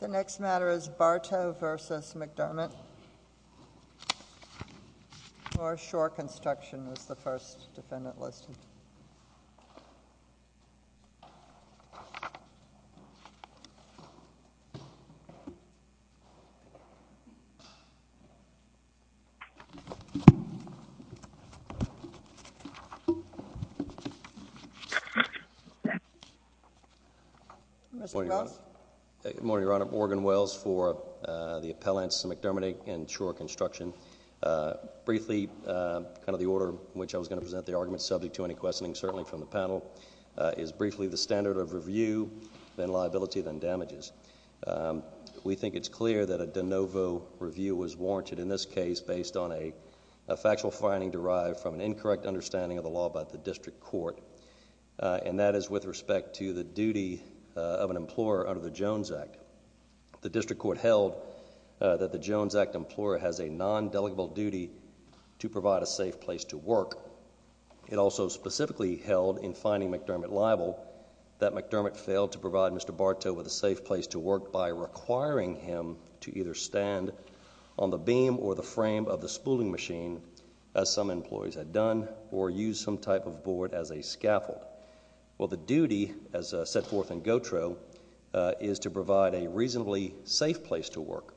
The next matter is Barto v. McDermott, Shore Construction is the first defendant listed. Mr. Wells? Good morning, Your Honor. Morgan Wells for the appellants McDermott and Shore Construction. Briefly, kind of the order in which I was going to present the argument subject to any questioning, certainly from the panel, is briefly the standard of review, then liability, then damages. We think it's clear that a de novo review was warranted in this case based on a factual finding derived from an incorrect understanding of the law by the district court. And that is with respect to the duty of an employer under the Jones Act. The district court held that the Jones Act employer has a non-delegable duty to provide a safe place to work. It also specifically held in finding McDermott liable that McDermott failed to provide Mr. Barto with a safe place to work by requiring him to either stand on the beam or the frame of the spooling machine, as some employees had done, or use some type of board as a scaffold. Well, the duty, as set forth in Gautreaux, is to provide a reasonably safe place to work.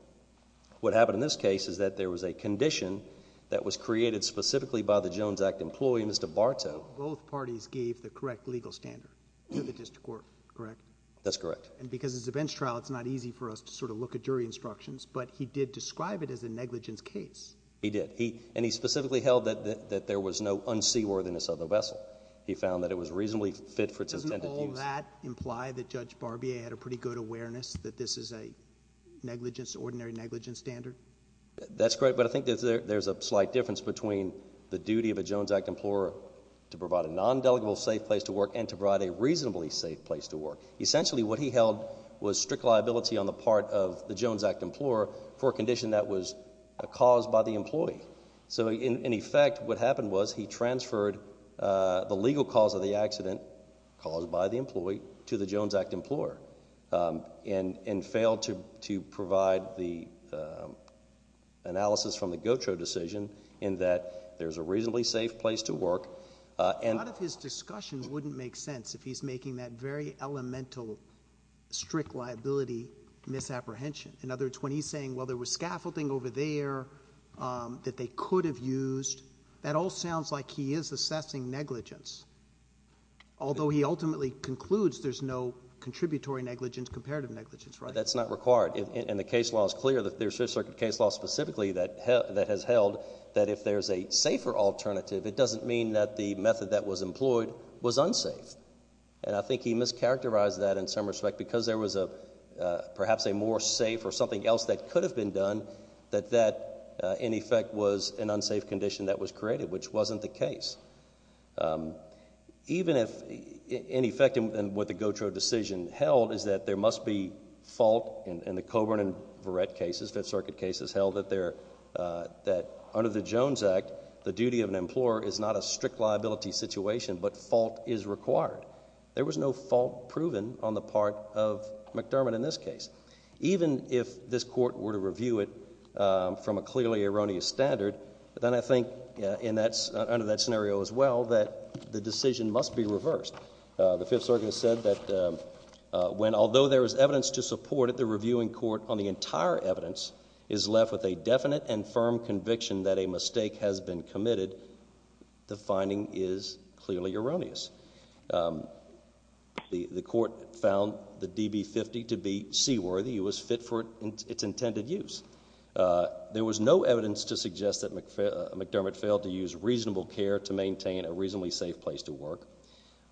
What happened in this case is that there was a condition that was created specifically by the Jones Act employee, Mr. Barto. Both parties gave the correct legal standard to the district court, correct? That's correct. And because it's a bench trial, it's not easy for us to sort of look at jury instructions. But he did describe it as a negligence case. He did. And he specifically held that there was no unseaworthiness of the vessel. He found that it was reasonably fit for its intended use. Does that imply that Judge Barbier had a pretty good awareness that this is an ordinary negligence standard? That's correct. But I think that there's a slight difference between the duty of a Jones Act employer to provide a non-delegable safe place to work and to provide a reasonably safe place to work. Essentially, what he held was strict liability on the part of the Jones Act employer for a condition that was caused by the employee. So, in effect, what happened was he transferred the legal cause of the accident caused by the employee to the Jones Act employer and failed to provide the analysis from the GOTRO decision in that there's a reasonably safe place to work. A lot of his discussion wouldn't make sense if he's making that very elemental strict liability misapprehension. In other words, when he's saying, well, there was scaffolding over there that they could have used, that all sounds like he is assessing negligence. Although he ultimately concludes there's no contributory negligence, comparative negligence, right? That's not required, and the case law is clear. There's a circuit case law specifically that has held that if there's a safer alternative, it doesn't mean that the method that was employed was unsafe. And I think he mischaracterized that in some respect because there was perhaps a more safe or something else that could have been done that that, in effect, was an unsafe condition that was created, which wasn't the case. Even if, in effect, what the GOTRO decision held is that there must be fault in the Coburn and Verrett cases, Fifth Circuit cases, held that under the Jones Act, the duty of an employer is not a strict liability situation, but fault is required. There was no fault proven on the part of McDermott in this case. Even if this court were to review it from a clearly erroneous standard, then I think under that scenario as well that the decision must be reversed. The Fifth Circuit said that when, although there is evidence to support it, the reviewing court on the entire evidence is left with a definite and firm conviction that a mistake has been committed, the finding is clearly erroneous. The court found the DB-50 to be seaworthy. It was fit for its intended use. There was no evidence to suggest that McDermott failed to use reasonable care to maintain a reasonably safe place to work.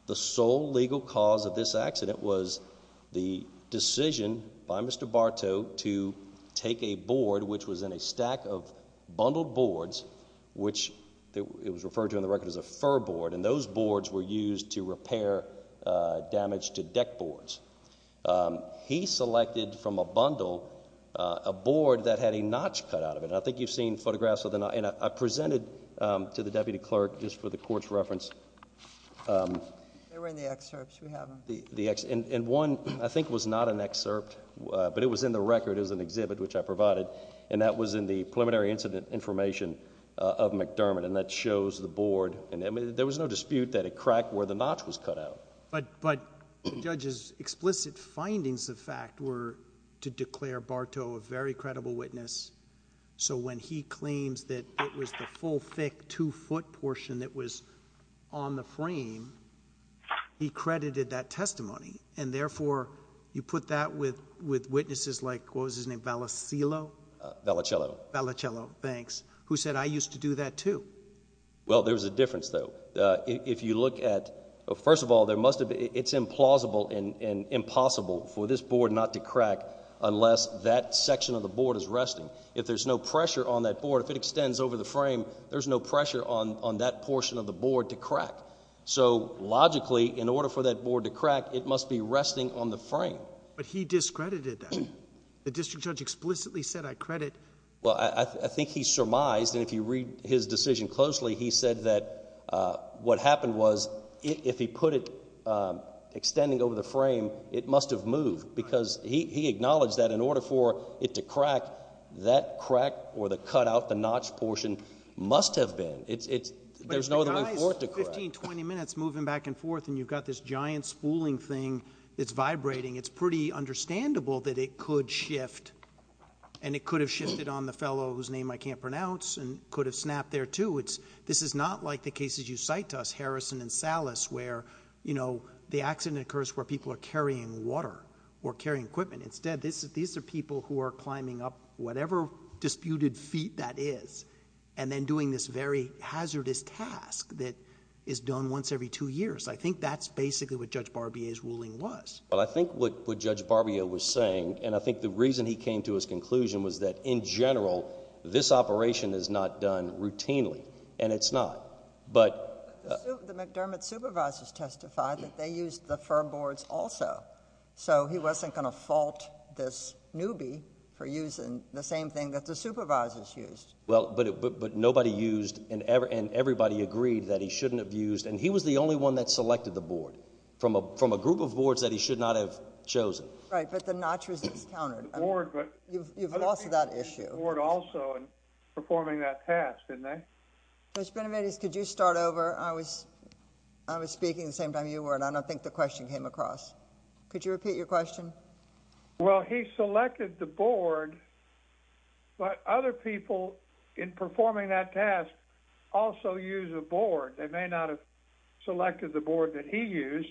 The sole legal cause of this accident was the decision by Mr. Bartow to take a board, which was in a stack of bundled boards, which it was referred to in the record as a fur board, and those boards were used to repair damage to deck boards. He selected from a bundle a board that had a notch cut out of it, and I think you've seen photographs of the notch. I presented to the deputy clerk, just for the court's reference, and one I think was not an excerpt, but it was in the record. It was an exhibit, which I provided, and that was in the preliminary incident information of McDermott, and that shows the board. There was no dispute that it cracked where the notch was cut out. But the judge's explicit findings of fact were to declare Bartow a very credible witness, so when he claims that it was the full, thick, two-foot portion that was on the frame, he credited that testimony, and therefore, you put that with witnesses like, what was his name, Valasilo? Valicello. Valicello, thanks, who said, I used to do that too. Well, there's a difference, though. If you look at – first of all, it's implausible and impossible for this board not to crack unless that section of the board is resting. If there's no pressure on that board, if it extends over the frame, there's no pressure on that portion of the board to crack. So logically, in order for that board to crack, it must be resting on the frame. But he discredited that. The district judge explicitly said, I credit. Well, I think he surmised, and if you read his decision closely, he said that what happened was if he put it extending over the frame, it must have moved because he acknowledged that in order for it to crack, that crack or the cutout, the notch portion, must have been. There's no other way forth to crack. You've got 15, 20 minutes moving back and forth, and you've got this giant spooling thing that's vibrating. It's pretty understandable that it could shift, and it could have shifted on the fellow whose name I can't pronounce and could have snapped there too. This is not like the cases you cite to us, Harrison and Salas, where the accident occurs where people are carrying water or carrying equipment. Instead, these are people who are climbing up whatever disputed feet that is and then doing this very hazardous task that is done once every two years. I think that's basically what Judge Barbier's ruling was. Well, I think what Judge Barbier was saying, and I think the reason he came to his conclusion, was that in general, this operation is not done routinely, and it's not. The McDermott supervisors testified that they used the firm boards also, so he wasn't going to fault this newbie for using the same thing that the supervisors used. Well, but nobody used, and everybody agreed that he shouldn't have used, and he was the only one that selected the board from a group of boards that he should not have chosen. Right, but the notch was discounted. You've lost that issue. ...performing that task, didn't they? Judge Benavides, could you start over? I was speaking the same time you were, and I don't think the question came across. Could you repeat your question? Well, he selected the board, but other people in performing that task also use a board. They may not have selected the board that he used,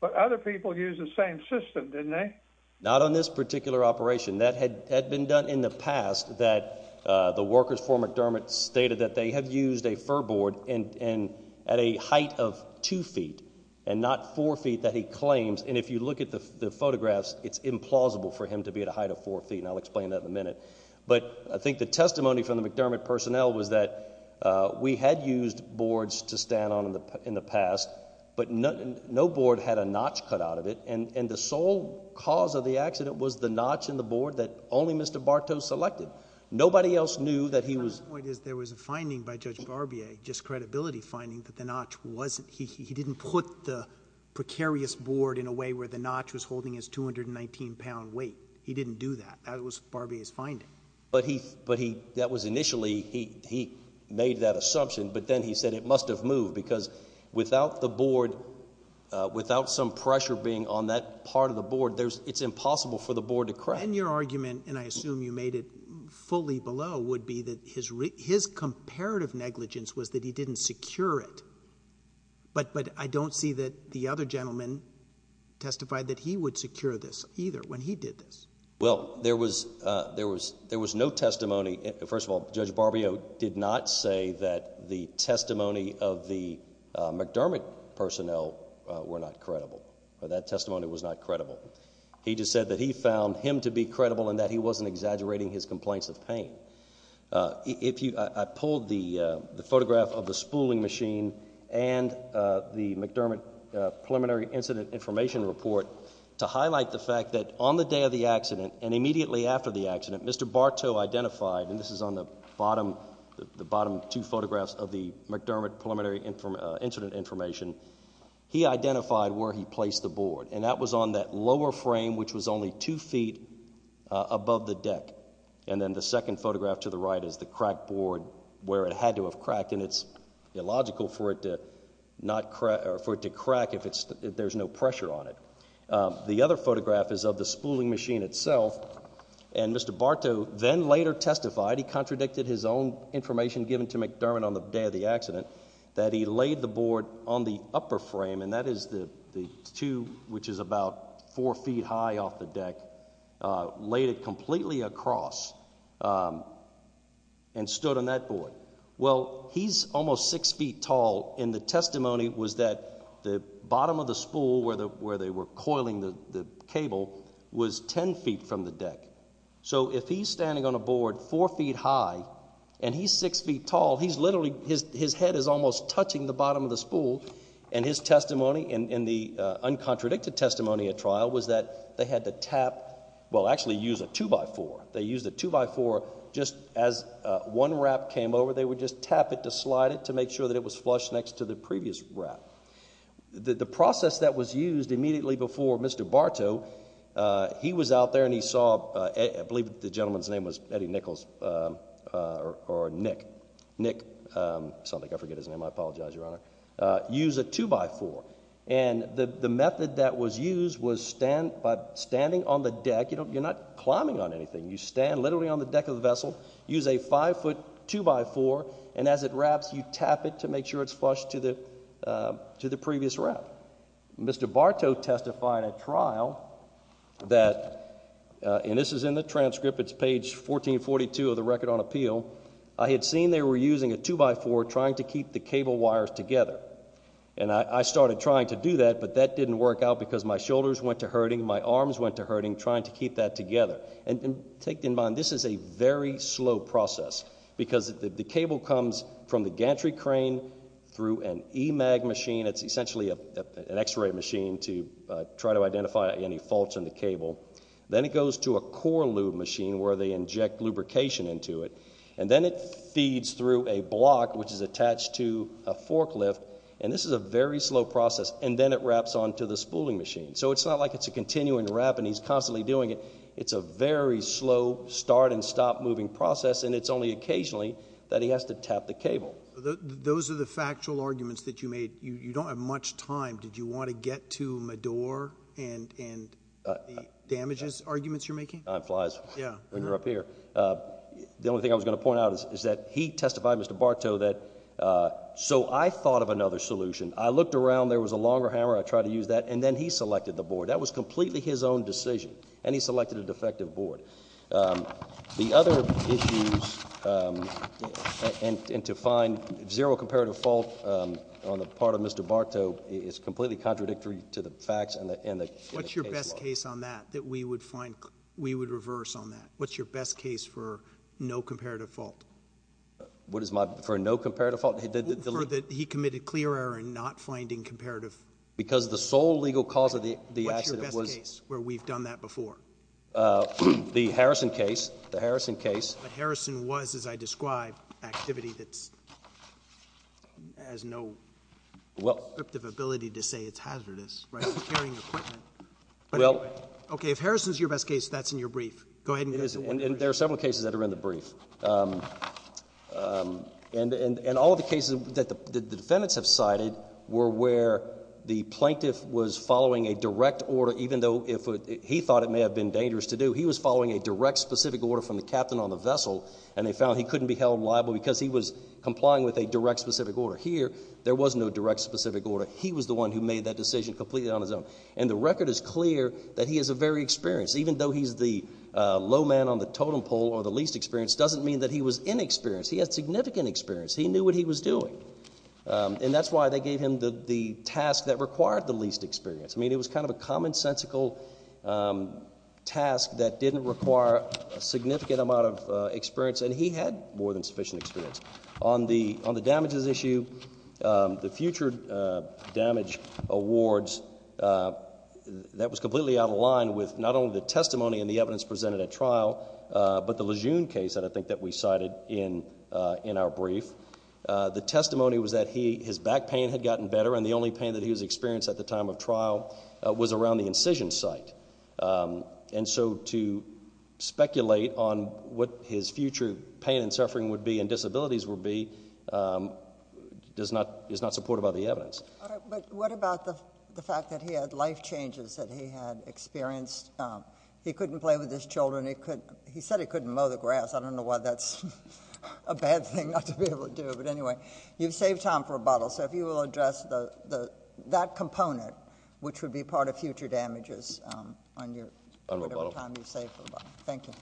but other people used the same system, didn't they? Not on this particular operation. That had been done in the past, that the workers for McDermott stated that they had used a fir board at a height of two feet and not four feet that he claims, and if you look at the photographs, it's implausible for him to be at a height of four feet, and I'll explain that in a minute. But I think the testimony from the McDermott personnel was that we had used boards to stand on in the past, but no board had a notch cut out of it, and the sole cause of the accident was the notch in the board that only Mr. Bartow selected. Nobody else knew that he was... My point is there was a finding by Judge Barbier, just credibility finding, that the notch wasn't... he didn't put the precarious board in a way where the notch was holding his 219-pound weight. He didn't do that. That was Barbier's finding. But he, that was initially, he made that assumption, but then he said it must have moved because without the board, without some pressure being on that part of the board, it's impossible for the board to crack. And your argument, and I assume you made it fully below, would be that his comparative negligence was that he didn't secure it, but I don't see that the other gentleman testified that he would secure this either when he did this. Well, there was no testimony. First of all, Judge Barbier did not say that the testimony of the McDermott personnel were not credible. That testimony was not credible. He just said that he found him to be credible and that he wasn't exaggerating his complaints of pain. If you, I pulled the photograph of the spooling machine and the McDermott preliminary incident information report to highlight the fact that on the day of the accident and immediately after the accident, Mr. Bartow identified, and this is on the bottom, the bottom two photographs of the McDermott preliminary incident information, he identified where he placed the board. And that was on that lower frame, which was only two feet above the deck. And then the second photograph to the right is the crack board where it had to have cracked, and it's illogical for it to crack if there's no pressure on it. The other photograph is of the spooling machine itself, and Mr. Bartow then later testified, he contradicted his own information given to McDermott on the day of the accident, that he laid the board on the upper frame, and that is the two, which is about four feet high off the deck, laid it completely across and stood on that board. Well, he's almost six feet tall, and the testimony was that the bottom of the spool where they were coiling the cable was ten feet from the deck. So if he's standing on a board four feet high and he's six feet tall, he's literally, his head is almost touching the bottom of the spool, and his testimony and the uncontradicted testimony at trial was that they had to tap, well, actually use a two-by-four. They used a two-by-four just as one wrap came over, they would just tap it to slide it to make sure that it was flush next to the previous wrap. The process that was used immediately before Mr. Bartow, he was out there and he saw, I believe the gentleman's name was Eddie Nichols or Nick, Nick something, I forget his name, I apologize, Your Honor, use a two-by-four, and the method that was used was by standing on the deck, you're not climbing on anything, you stand literally on the deck of the vessel, use a five-foot two-by-four, and as it wraps you tap it to make sure it's flush to the previous wrap. Mr. Bartow testified at trial that, and this is in the transcript, it's page 1442 of the Record on Appeal, I had seen they were using a two-by-four trying to keep the cable wires together, and I started trying to do that, but that didn't work out because my shoulders went to hurting, my arms went to hurting trying to keep that together. And take in mind, this is a very slow process because the cable comes from the gantry crane through an EMAG machine, it's essentially an x-ray machine to try to identify any faults in the cable, then it goes to a core lube machine where they inject lubrication into it, and then it feeds through a block which is attached to a forklift, and this is a very slow process, and then it wraps onto the spooling machine, so it's not like it's a continuing wrap and he's constantly doing it, it's a very slow start and stop moving process, and it's only occasionally that he has to tap the cable. Those are the factual arguments that you made. You don't have much time. Did you want to get to Madour and the damages arguments you're making? Time flies when you're up here. The only thing I was going to point out is that he testified, Mr. Bartow, that so I thought of another solution. I looked around. There was a longer hammer. I tried to use that, and then he selected the board. That was completely his own decision, and he selected a defective board. The other issues and to find zero comparative fault on the part of Mr. Bartow is completely contradictory to the facts and the case law. What's your best case on that that we would find, we would reverse on that? What's your best case for no comparative fault? What is my, for no comparative fault? For that he committed clear error in not finding comparative. Because the sole legal cause of the accident was. What's your best case where we've done that before? The Harrison case. The Harrison case. But Harrison was, as I described, activity that has no descriptive ability to say it's hazardous, right? It's carrying equipment. Well. Okay, if Harrison's your best case, that's in your brief. Go ahead. And there are several cases that are in the brief. And all of the cases that the defendants have cited were where the plaintiff was following a direct order, even though he thought it may have been dangerous to do. He was following a direct specific order from the captain on the vessel, and they found he couldn't be held liable because he was complying with a direct specific order. Here, there was no direct specific order. He was the one who made that decision completely on his own. And the record is clear that he is a very experienced. Even though he's the low man on the totem pole or the least experienced doesn't mean that he was inexperienced. He had significant experience. He knew what he was doing. And that's why they gave him the task that required the least experience. I mean, it was kind of a commonsensical task that didn't require a significant amount of experience, and he had more than sufficient experience. On the damages issue, the future damage awards, that was completely out of line with not only the testimony and the evidence presented at trial, but the Lejeune case that I think that we cited in our brief. The testimony was that his back pain had gotten better, and the only pain that he was experiencing at the time of trial was around the incision site. And so to speculate on what his future pain and suffering would be and disabilities would be is not supported by the evidence. But what about the fact that he had life changes that he had experienced? He couldn't play with his children. He said he couldn't mow the grass. I don't know why that's a bad thing not to be able to do. But anyway, you've saved time for rebuttal. So if you will address that component, which would be part of future damages on your time you've saved for rebuttal. Thank you.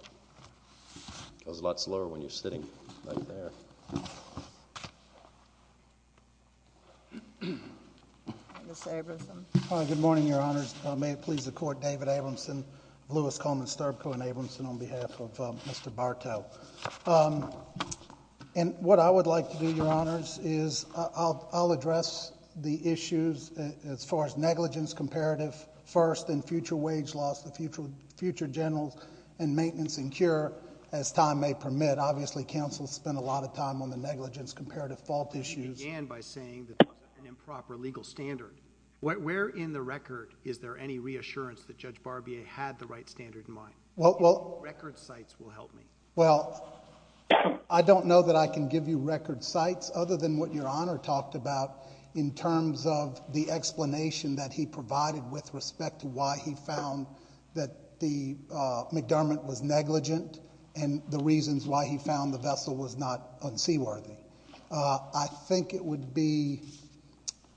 That was a lot slower when you're sitting right there. Mr. Abramson. Good morning, Your Honors. May it please the Court, David Abramson, Louis Coleman Sterbko and Abramson on behalf of Mr. Bartow. And what I would like to do, Your Honors, is I'll address the issues as far as negligence comparative first, and future wage loss, the future general, and maintenance and cure as time may permit. Obviously, counsel spent a lot of time on the negligence comparative fault issues. You began by saying that it was an improper legal standard. Where in the record is there any reassurance that Judge Barbier had the right standard in mind? Record sites will help me. Well, I don't know that I can give you record sites other than what Your Honor talked about in terms of the explanation that he provided with respect to why he found that the McDermott was negligent and the reasons why he found the vessel was not unseaworthy. I think it would be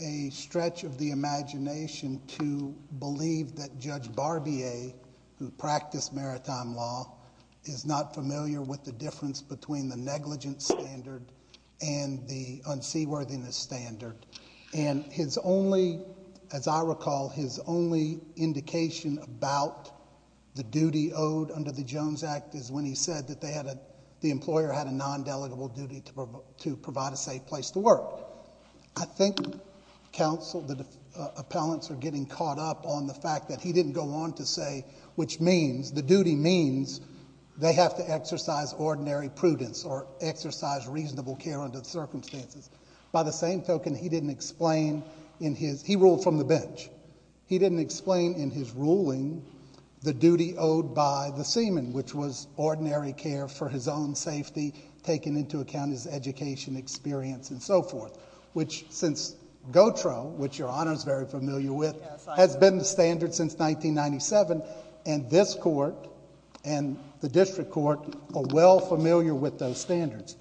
a stretch of the imagination to believe that Judge Barbier, who practiced maritime law, is not familiar with the difference between the negligence standard and the unseaworthiness standard. And his only, as I recall, his only indication about the duty owed under the Jones Act is when he said that the employer had a non-delegable duty to provide a safe place to work. I think counsel, the appellants, are getting caught up on the fact that he didn't go on to say which means, the duty means they have to exercise ordinary prudence or exercise reasonable care under the circumstances. By the same token, he ruled from the bench. He didn't explain in his ruling the duty owed by the seaman, which was ordinary care for his own safety, taking into account his education, experience, and so forth. Which, since GOTRO, which Your Honor is very familiar with, has been the standard since 1997, and this court and the district court are well familiar with those standards.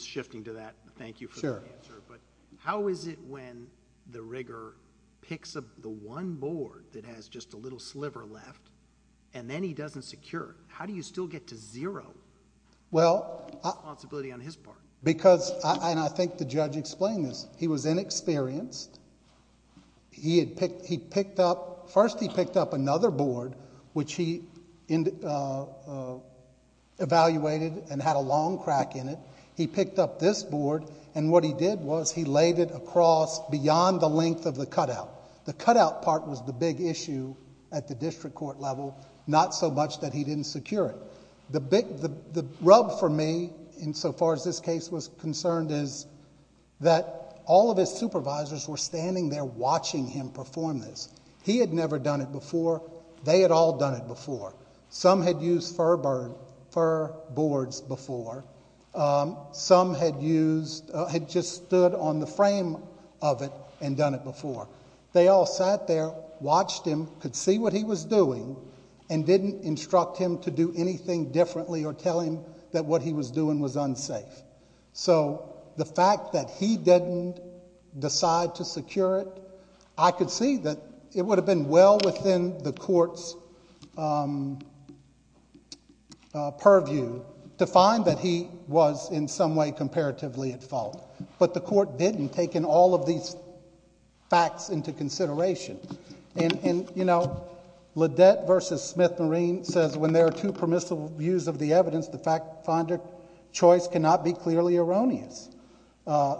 Shifting to that, thank you for the answer, but how is it when the rigger picks up the one board that has just a little sliver left and then he doesn't secure it? How do you still get to zero responsibility on his part? Because, and I think the judge explained this, he was inexperienced. First, he picked up another board, which he evaluated and had a long crack in it. He picked up this board, and what he did was he laid it across beyond the length of the cutout. The cutout part was the big issue at the district court level, not so much that he didn't secure it. The rub for me, insofar as this case was concerned, is that all of his supervisors were standing there watching him perform this. He had never done it before. They had all done it before. Some had used fur boards before. Some had just stood on the frame of it and done it before. They all sat there, watched him, could see what he was doing, and didn't instruct him to do anything differently or tell him that what he was doing was unsafe. So the fact that he didn't decide to secure it, I could see that it would have been well within the court's purview to find that he was in some way comparatively at fault. But the court didn't, taking all of these facts into consideration. And, you know, Ledette v. Smith-Marine says, when there are two permissible views of the evidence, the finder's choice cannot be clearly erroneous.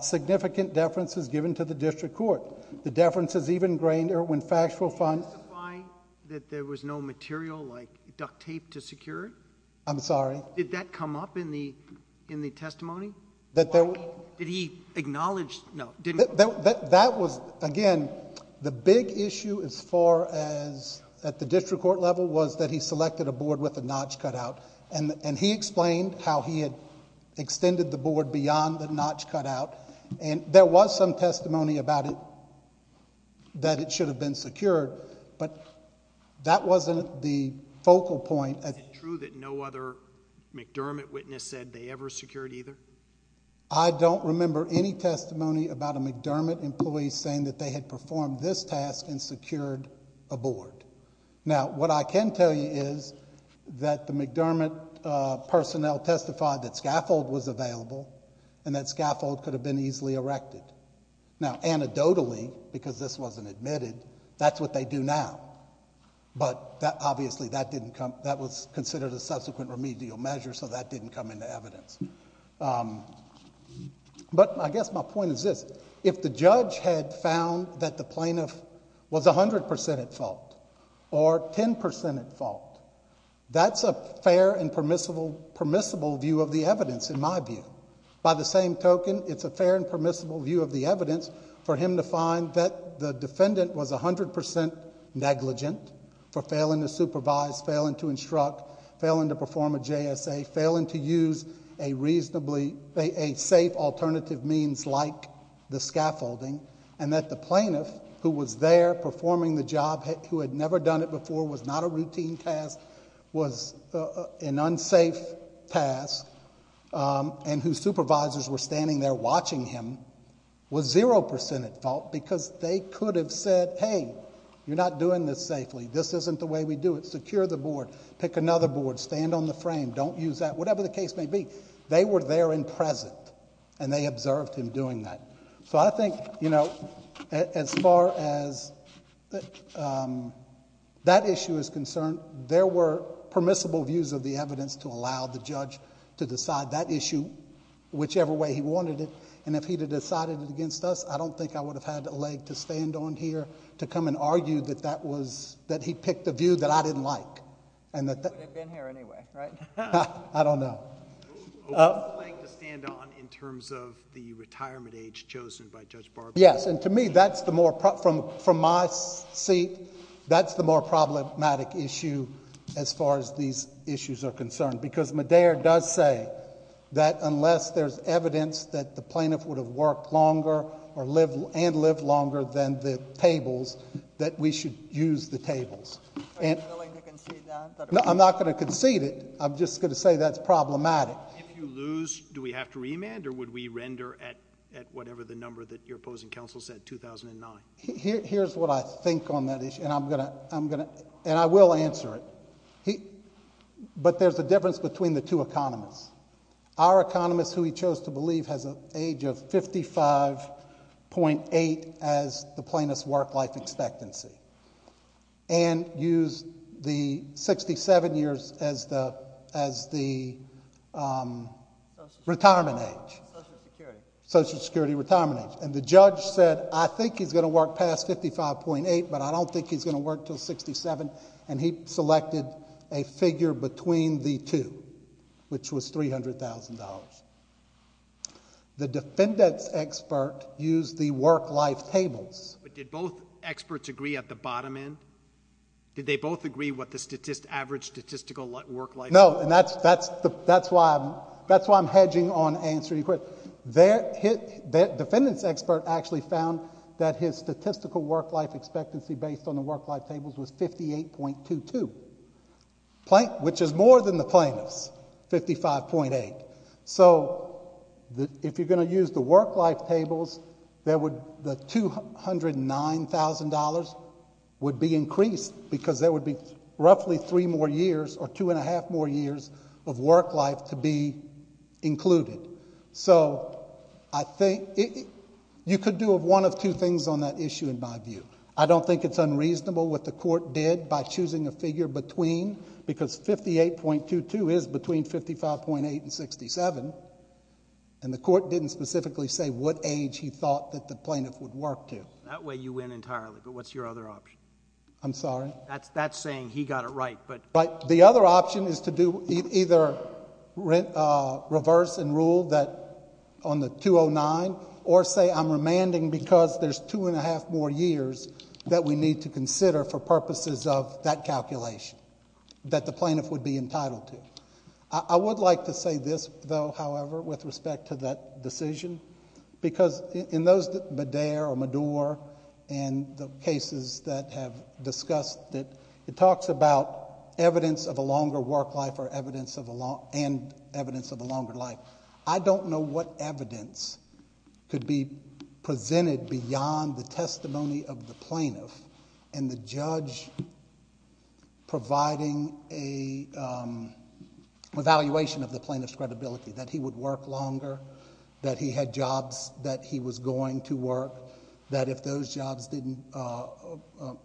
Significant deference is given to the district court. The deference is even grainer when factual findings... Can you justify that there was no material like duct tape to secure it? I'm sorry? Did that come up in the testimony? Did he acknowledge... no. That was, again, the big issue as far as at the district court level was that he selected a board with a notch cut out. And he explained how he had extended the board beyond the notch cut out. And there was some testimony about it, that it should have been secured, but that wasn't the focal point. Is it true that no other McDermott witness said they ever secured either? I don't remember any testimony about a McDermott employee saying that they had performed this task and secured a board. Now, what I can tell you is that the McDermott personnel testified that scaffold was available and that scaffold could have been easily erected. Now, anecdotally, because this wasn't admitted, that's what they do now. Obviously, that was considered a subsequent remedial measure, so that didn't come into evidence. But I guess my point is this. If the judge had found that the plaintiff was 100% at fault or 10% at fault, that's a fair and permissible view of the evidence, in my view. By the same token, it's a fair and permissible view of the evidence for him to find that the defendant was 100% negligent for failing to supervise, failing to instruct, failing to perform a JSA, failing to use a safe alternative means like the scaffolding, and that the plaintiff, who was there performing the job, who had never done it before, was not a routine task, was an unsafe task, and whose supervisors were standing there watching him, was 0% at fault because they could have said, hey, you're not doing this safely, this isn't the way we do it, secure the board, pick another board, stand on the frame, don't use that, whatever the case may be. They were there and present, and they observed him doing that. So I think, you know, as far as that issue is concerned, there were permissible views of the evidence to allow the judge to decide that issue whichever way he wanted it, and if he had decided it against us, I don't think I would have had a leg to stand on here to come and argue that he picked a view that I didn't like. He would have been here anyway, right? I don't know. What was the leg to stand on in terms of the retirement age chosen by Judge Barbour? Yes, and to me, that's the more... as far as these issues are concerned, because Medea does say that unless there's evidence that the plaintiff would have worked longer and lived longer than the tables, that we should use the tables. Are you willing to concede that? No, I'm not going to concede it. I'm just going to say that's problematic. If you lose, do we have to remand, or would we render at whatever the number that your opposing counsel said, 2009? Here's what I think on that issue, and I will answer it. But there's a difference between the two economists. Our economist, who he chose to believe, has an age of 55.8 as the plaintiff's work-life expectancy and used the 67 years as the retirement age, Social Security retirement age. The judge said, I think he's going to work past 55.8, but I don't think he's going to work till 67, and he selected a figure between the two, which was $300,000. The defendant's expert used the work-life tables. But did both experts agree at the bottom end? Did they both agree what the average statistical work-life...? No, and that's why I'm hedging on answering your question. The defendant's expert actually found that his statistical work-life expectancy based on the work-life tables was 58.22, which is more than the plaintiff's, 55.8. So if you're going to use the work-life tables, the $209,000 would be increased because there would be roughly three more years or two and a half more years of work-life to be included. So you could do one of two things on that issue in my view. I don't think it's unreasonable what the court did by choosing a figure between, because 58.22 is between 55.8 and 67, and the court didn't specifically say what age he thought that the plaintiff would work to. That way you win entirely, but what's your other option? I'm sorry? That's saying he got it right, but... The other option is to do either reverse and rule on the 209 or say I'm remanding because there's two and a half more years that we need to consider for purposes of that calculation that the plaintiff would be entitled to. I would like to say this, though, however, with respect to that decision, because in those that Medair or Medour and the cases that have discussed it, it talks about evidence of a longer work life and evidence of a longer life. I don't know what evidence could be presented beyond the testimony of the plaintiff and the judge providing an evaluation of the plaintiff's credibility, that he would work longer, that he had jobs that he was going to work, that if those jobs didn't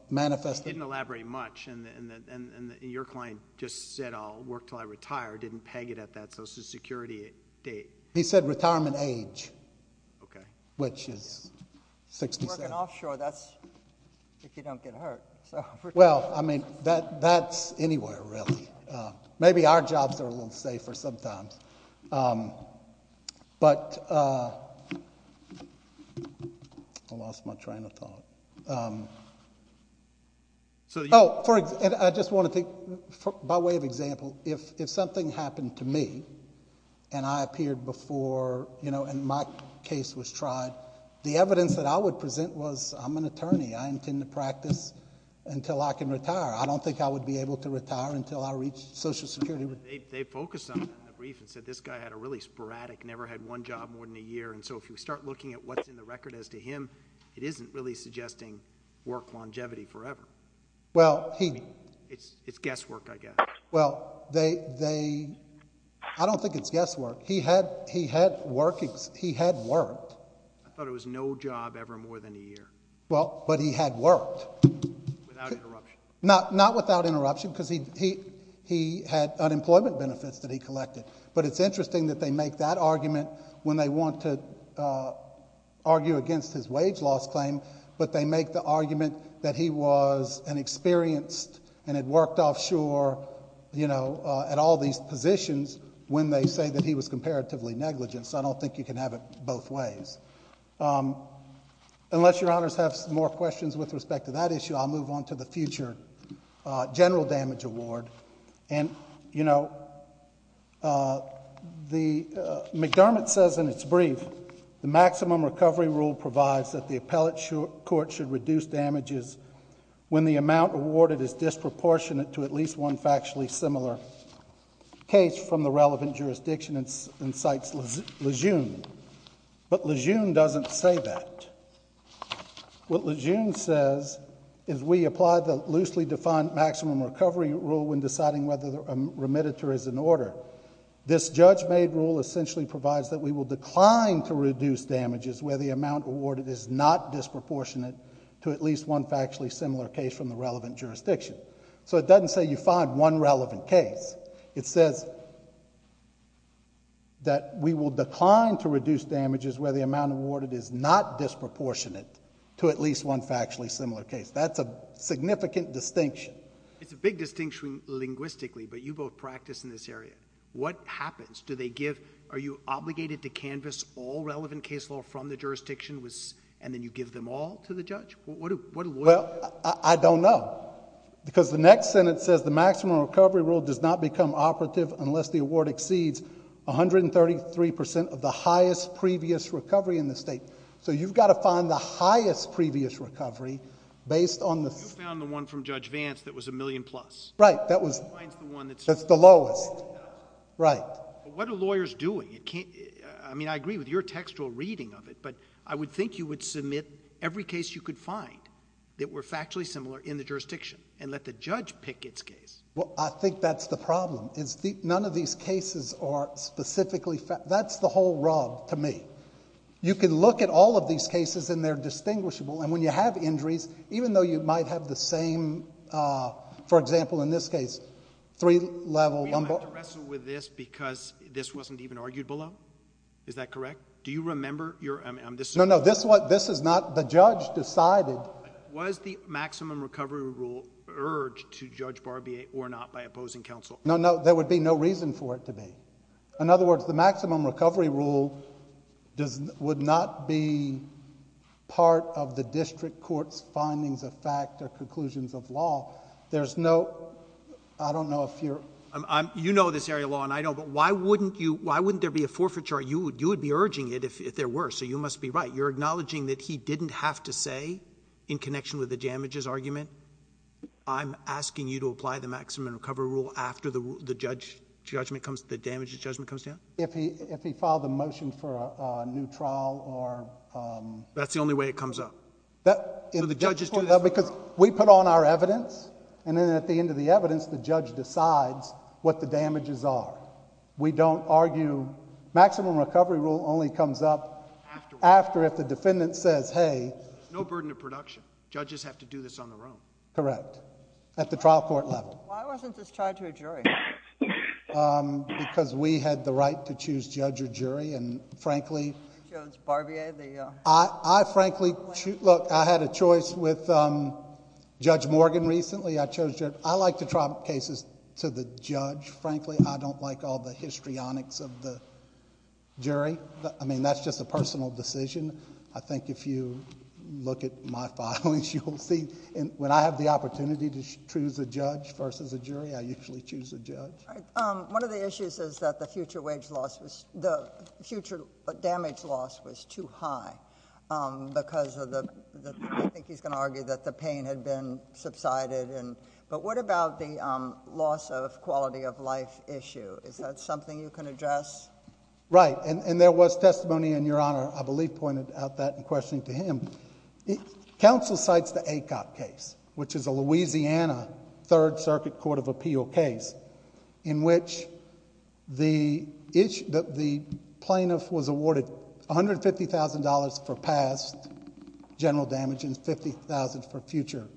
manifest... Didn't elaborate much, and your client just said, I'll work until I retire, didn't peg it at that social security date. He said retirement age, which is 67. Working offshore, that's if you don't get hurt. That's anywhere, really. Maybe our jobs are a little safer sometimes. But... I lost my train of thought. I just want to take, by way of example, if something happened to me, and I appeared before, and my case was tried, the evidence that I would present was, I'm an attorney, I intend to practice until I can retire. I don't think I would be able to retire until I reach social security. They focused on that in the brief and said this guy had a really sporadic... never had one job more than a year. So if you start looking at what's in the record as to him, it isn't really suggesting work longevity forever. It's guesswork, I guess. I don't think it's guesswork. He had worked. I thought it was no job ever more than a year. But he had worked. Without interruption. Not without interruption, because he had unemployment benefits that he collected. But it's interesting that they make that argument when they want to argue against his wage loss claim, but they make the argument that he was an experienced... and had worked offshore at all these positions, when they say that he was comparatively negligent. So I don't think you can have it both ways. Unless Your Honors have more questions with respect to that issue, I'll move on to the future general damage award. McDermott says in its brief, the maximum recovery rule provides that the appellate court should reduce damages when the amount awarded is disproportionate to at least one factually similar case from the relevant jurisdiction, and cites Lejeune. But Lejeune doesn't say that. What Lejeune says is we apply the loosely defined maximum recovery rule when deciding whether a remediator is in order. This judge-made rule essentially provides that we will decline to reduce damages where the amount awarded is not disproportionate to at least one factually similar case from the relevant jurisdiction. So it doesn't say you find one relevant case. It says that we will decline to reduce damages where the amount awarded is not disproportionate to at least one factually similar case. That's a significant distinction. It's a big distinction linguistically, but you both practice in this area. What happens? Do they give... Are you obligated to canvass all relevant case law from the jurisdiction, and then you give them all to the judge? Well, I don't know. Because the next sentence says the maximum recovery rule does not become operative unless the award exceeds 133% of the highest previous recovery in the state. So you've got to find the highest previous recovery based on the... You found the one from Judge Vance that was a million plus. Right. That's the lowest. Right. What are lawyers doing? I mean, I agree with your textual reading of it, but I would think you would submit every case you could find that were factually similar in the jurisdiction and let the judge pick its case. Well, I think that's the problem. None of these cases are specifically... That's the whole rub to me. You can look at all of these cases and they're distinguishable, and when you have injuries, even though you might have the same... For example, in this case, three level... We don't have to wrestle with this because this wasn't even argued below. Is that correct? Do you remember your... No, no. This is not... The judge decided... Was the maximum recovery rule urged to Judge Barbier or not by opposing counsel? No, no. There would be no reason for it to be. In other words, the maximum recovery rule would not be part of the district court's findings of fact or conclusions of law. There's no... I don't know if you're... You know this area of law, and I know, but why wouldn't there be a forfeit charge? You would be urging it if there were, so you must be right. You're acknowledging that he didn't have to say, in connection with the damages argument, I'm asking you to apply the maximum recovery rule after the damages judgment comes down? If he filed a motion for a new trial or... That's the only way it comes up? The judges do this... We put on our evidence, and then at the end of the evidence, the judge decides what the damages are. We don't argue... Maximum recovery rule only comes up after if the defendant says, Hey... No burden of production. Judges have to do this on their own. Correct. At the trial court level. Why wasn't this tried to a jury? Because we had the right to choose judge or jury, and frankly... You chose Barbier, the... I frankly... Look, I had a choice with Judge Morgan recently. I chose... I like to trial cases to the judge. Frankly, I don't like all the histrionics of the jury. I mean, that's just a personal decision. I think if you look at my filings, you will see... When I have the opportunity to choose a judge versus a jury, I usually choose a judge. All right. One of the issues is that the future wage loss was... The future damage loss was too high because of the... I think he's going to argue that the pain had been subsided. What about the loss of quality of life issue? Is that something you can address? Right. There was testimony, and Your Honor, I believe, pointed out that in questioning to him. Counsel cites the ACOP case, which is a Louisiana Third Circuit Court of Appeal case, in which the plaintiff was awarded $150,000 for past general damage and $50,000 for future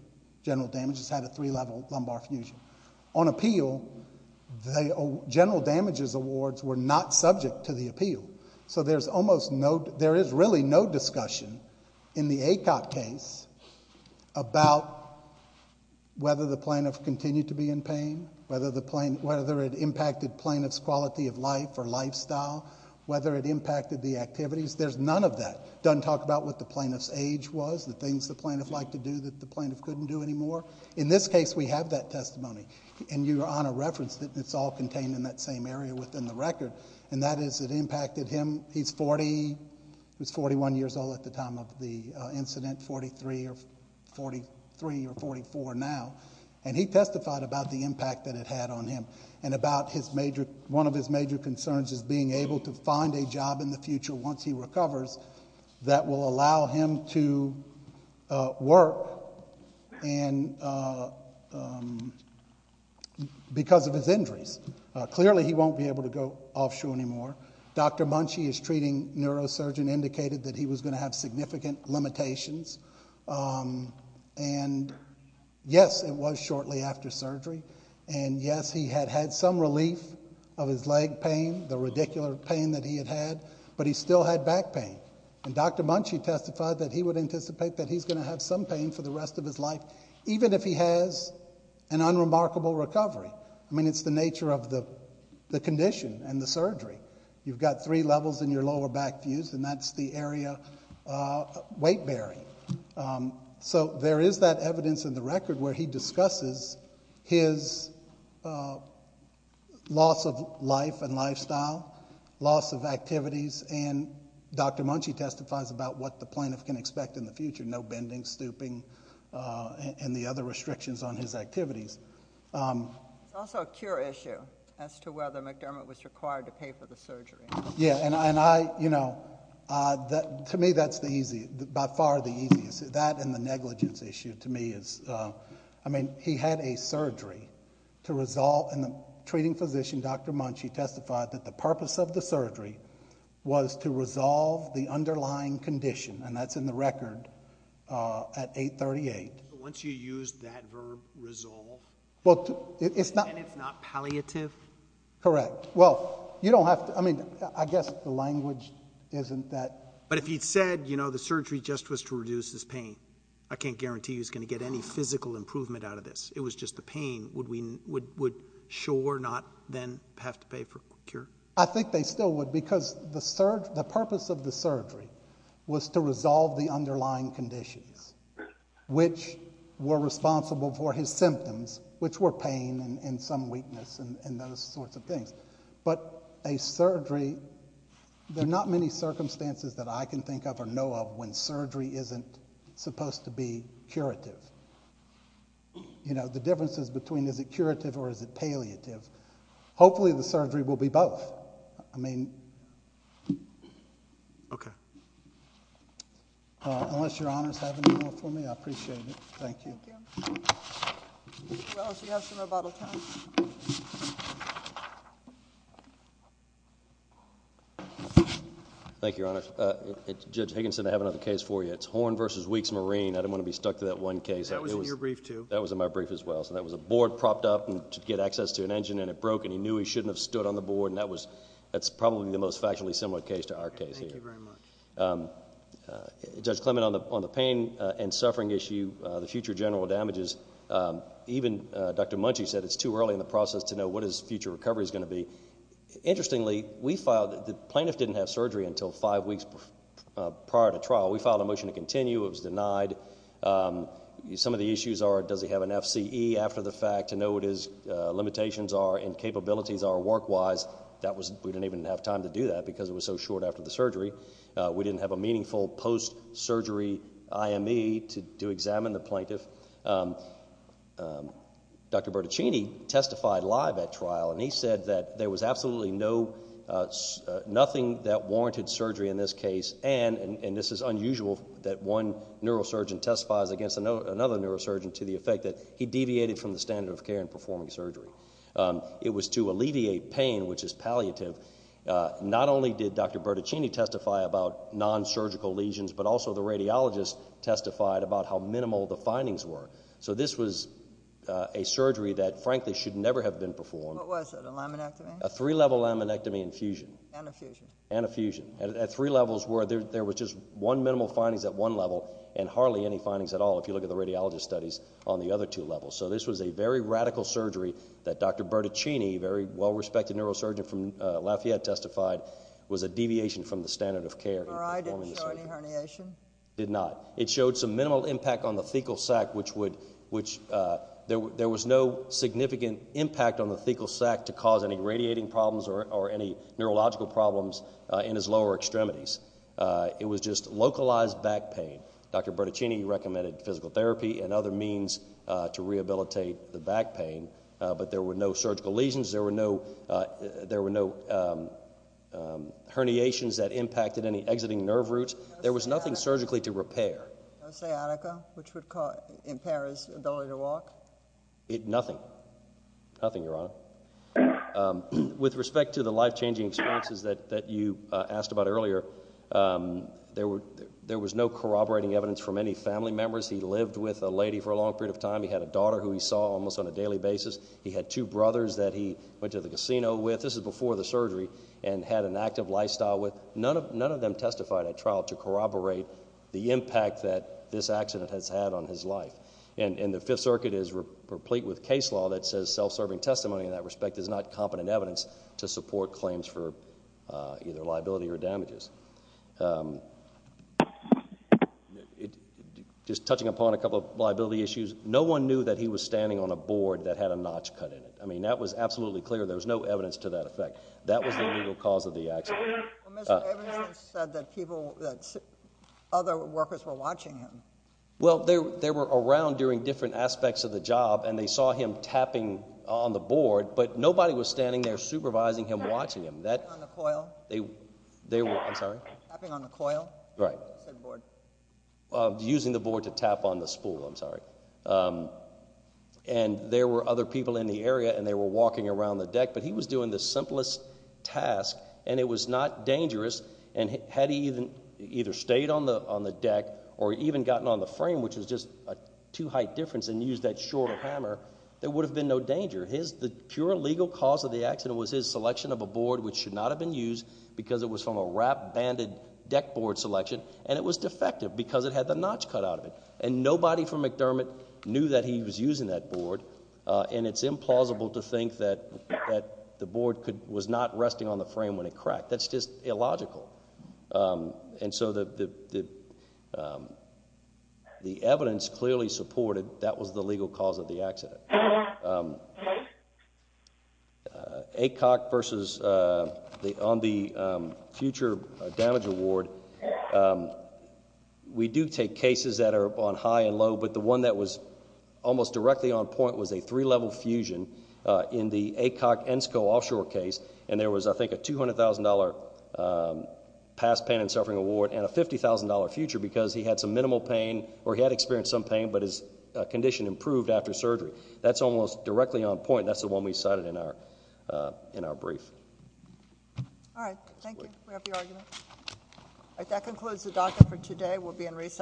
general damage. It's had a three-level lumbar fusion. On appeal, the general damages awards were not subject to the appeal, so there is really no discussion in the ACOP case about whether the plaintiff continued to be in pain, whether it impacted plaintiff's quality of life or lifestyle, whether it impacted the activities. There's none of that. It doesn't talk about what the plaintiff's age was, the things the plaintiff liked to do that the plaintiff couldn't do anymore. In this case, we have that testimony, and Your Honor referenced that it's all contained in that same area within the record, and that is it impacted him. He was 41 years old at the time of the incident, 43 or 44 now, and he testified about the impact that it had on him and about one of his major concerns is being able to find a job in the future once he recovers that will allow him to work because of his injuries. Clearly, he won't be able to go offshore anymore. Dr. Munchie, his treating neurosurgeon, indicated that he was going to have significant limitations, and yes, it was shortly after surgery, and yes, he had had some relief of his leg pain, the radicular pain that he had had, but he still had back pain, and Dr. Munchie testified that he would anticipate that he's going to have some pain for the rest of his life even if he has an unremarkable recovery. I mean, it's the nature of the condition and the surgery. You've got three levels in your lower back fuse, and that's the area weight bearing. So there is that evidence in the record where he discusses his loss of life and lifestyle, loss of activities, and Dr. Munchie testifies about what the plaintiff can expect in the future, no bending, stooping, and the other restrictions on his activities. There's also a cure issue as to whether McDermott was required to pay for the surgery. Yeah, and I, you know, to me that's by far the easiest. That and the negligence issue to me is, I mean, he had a surgery to resolve, and the treating physician, Dr. Munchie, testified that the purpose of the surgery was to resolve the underlying condition, and that's in the record at 838. But once you use that verb, resolve, then it's not palliative? Correct. Well, you don't have to, I mean, I guess the language isn't that. But if he'd said, you know, the surgery just was to reduce his pain, I can't guarantee he was going to get any physical improvement out of this. It was just the pain. Would Shaw not then have to pay for a cure? I think they still would because the purpose of the surgery was to resolve the underlying conditions, which were responsible for his symptoms, which were pain and some weakness and those sorts of things. But a surgery, there are not many circumstances that I can think of or know of when surgery isn't supposed to be curative. You know, the difference is between is it curative or is it palliative. Hopefully the surgery will be both. I mean... Okay. Unless Your Honors have any more for me, I appreciate it. Thank you. Thank you. Mr. Wells, you have some rebuttal time. Thank you, Your Honors. Judge Higginson, I have another case for you. It's Horn v. Weeks Marine. I didn't want to be stuck to that one case. That was in your brief too. That was in my brief as well. So that was a board propped up to get access to an engine, and it broke and he knew he shouldn't have stood on the board, and that's probably the most factually similar case to our case here. Thank you very much. Judge Clement, on the pain and suffering issue, the future general damages, even Dr. Munchie said it's too early in the process to know what his future recovery is going to be. Interestingly, the plaintiff didn't have surgery until five weeks prior to trial. We filed a motion to continue. It was denied. Some of the issues are does he have an FCE after the fact to know what his limitations are and capabilities are work-wise. We didn't even have time to do that because it was so short after the surgery. We didn't have a meaningful post-surgery IME to examine the plaintiff. Dr. Bertaccini testified live at trial, and he said that there was absolutely nothing that warranted surgery in this case, and this is unusual that one neurosurgeon testifies against another neurosurgeon to the effect that he deviated from the standard of care in performing surgery. It was to alleviate pain, which is palliative. Not only did Dr. Bertaccini testify about nonsurgical lesions, but also the radiologist testified about how minimal the findings were. So this was a surgery that, frankly, should never have been performed. What was it, a laminectomy? A three-level laminectomy and fusion. And a fusion. And a fusion. At three levels where there was just one minimal findings at one level and hardly any findings at all if you look at the radiologist studies on the other two levels. So this was a very radical surgery that Dr. Bertaccini, a very well-respected neurosurgeon from Lafayette, testified was a deviation from the standard of care. Or I didn't show any herniation? Did not. It showed some minimal impact on the thecal sac, which there was no significant impact on the thecal sac to cause any radiating problems or any neurological problems in his lower extremities. It was just localized back pain. Dr. Bertaccini recommended physical therapy and other means to rehabilitate the back pain, but there were no surgical lesions. There were no herniations that impacted any exiting nerve roots. There was nothing surgically to repair. No sciatica, which would impair his ability to walk? Nothing. Nothing, Your Honor. With respect to the life-changing experiences that you asked about earlier, there was no corroborating evidence from any family members. He lived with a lady for a long period of time. He had a daughter who he saw almost on a daily basis. He had two brothers that he went to the casino with. This was before the surgery and had an active lifestyle with. None of them testified at trial to corroborate the impact that this accident has had on his life. And the Fifth Circuit is replete with case law that says self-serving testimony in that respect is not competent evidence to support claims for either liability or damages. Just touching upon a couple of liability issues, no one knew that he was standing on a board that had a notch cut in it. I mean, that was absolutely clear. There was no evidence to that effect. That was the legal cause of the accident. Well, Mr. Abrams said that other workers were watching him. Well, they were around during different aspects of the job, and they saw him tapping on the board, but nobody was standing there supervising him, watching him. Tapping on the coil? I'm sorry? Tapping on the coil? Right. He said board. Using the board to tap on the spool. I'm sorry. And there were other people in the area, and they were walking around the deck, but he was doing the simplest task, and it was not dangerous. And had he either stayed on the deck or even gotten on the frame, which was just a two-height difference and used that shorter hammer, there would have been no danger. The pure legal cause of the accident was his selection of a board, which should not have been used, because it was from a wrap-banded deck board selection, and it was defective because it had the notch cut out of it. And nobody from McDermott knew that he was using that board, and it's implausible to think that the board was not resting on the frame when it cracked. That's just illogical. And so the evidence clearly supported that was the legal cause of the accident. ACOC versus on the future damage award, we do take cases that are on high and low, but the one that was almost directly on point was a three-level fusion in the ACOC Ensco offshore case, and there was, I think, a $200,000 past pain and suffering award and a $50,000 future because he had some minimal pain, or he had experienced some pain, but his condition improved after surgery. That's almost directly on point, and that's the one we cited in our brief. All right. Thank you. We have the argument. All right. That concludes the docket for today. We'll be in recess.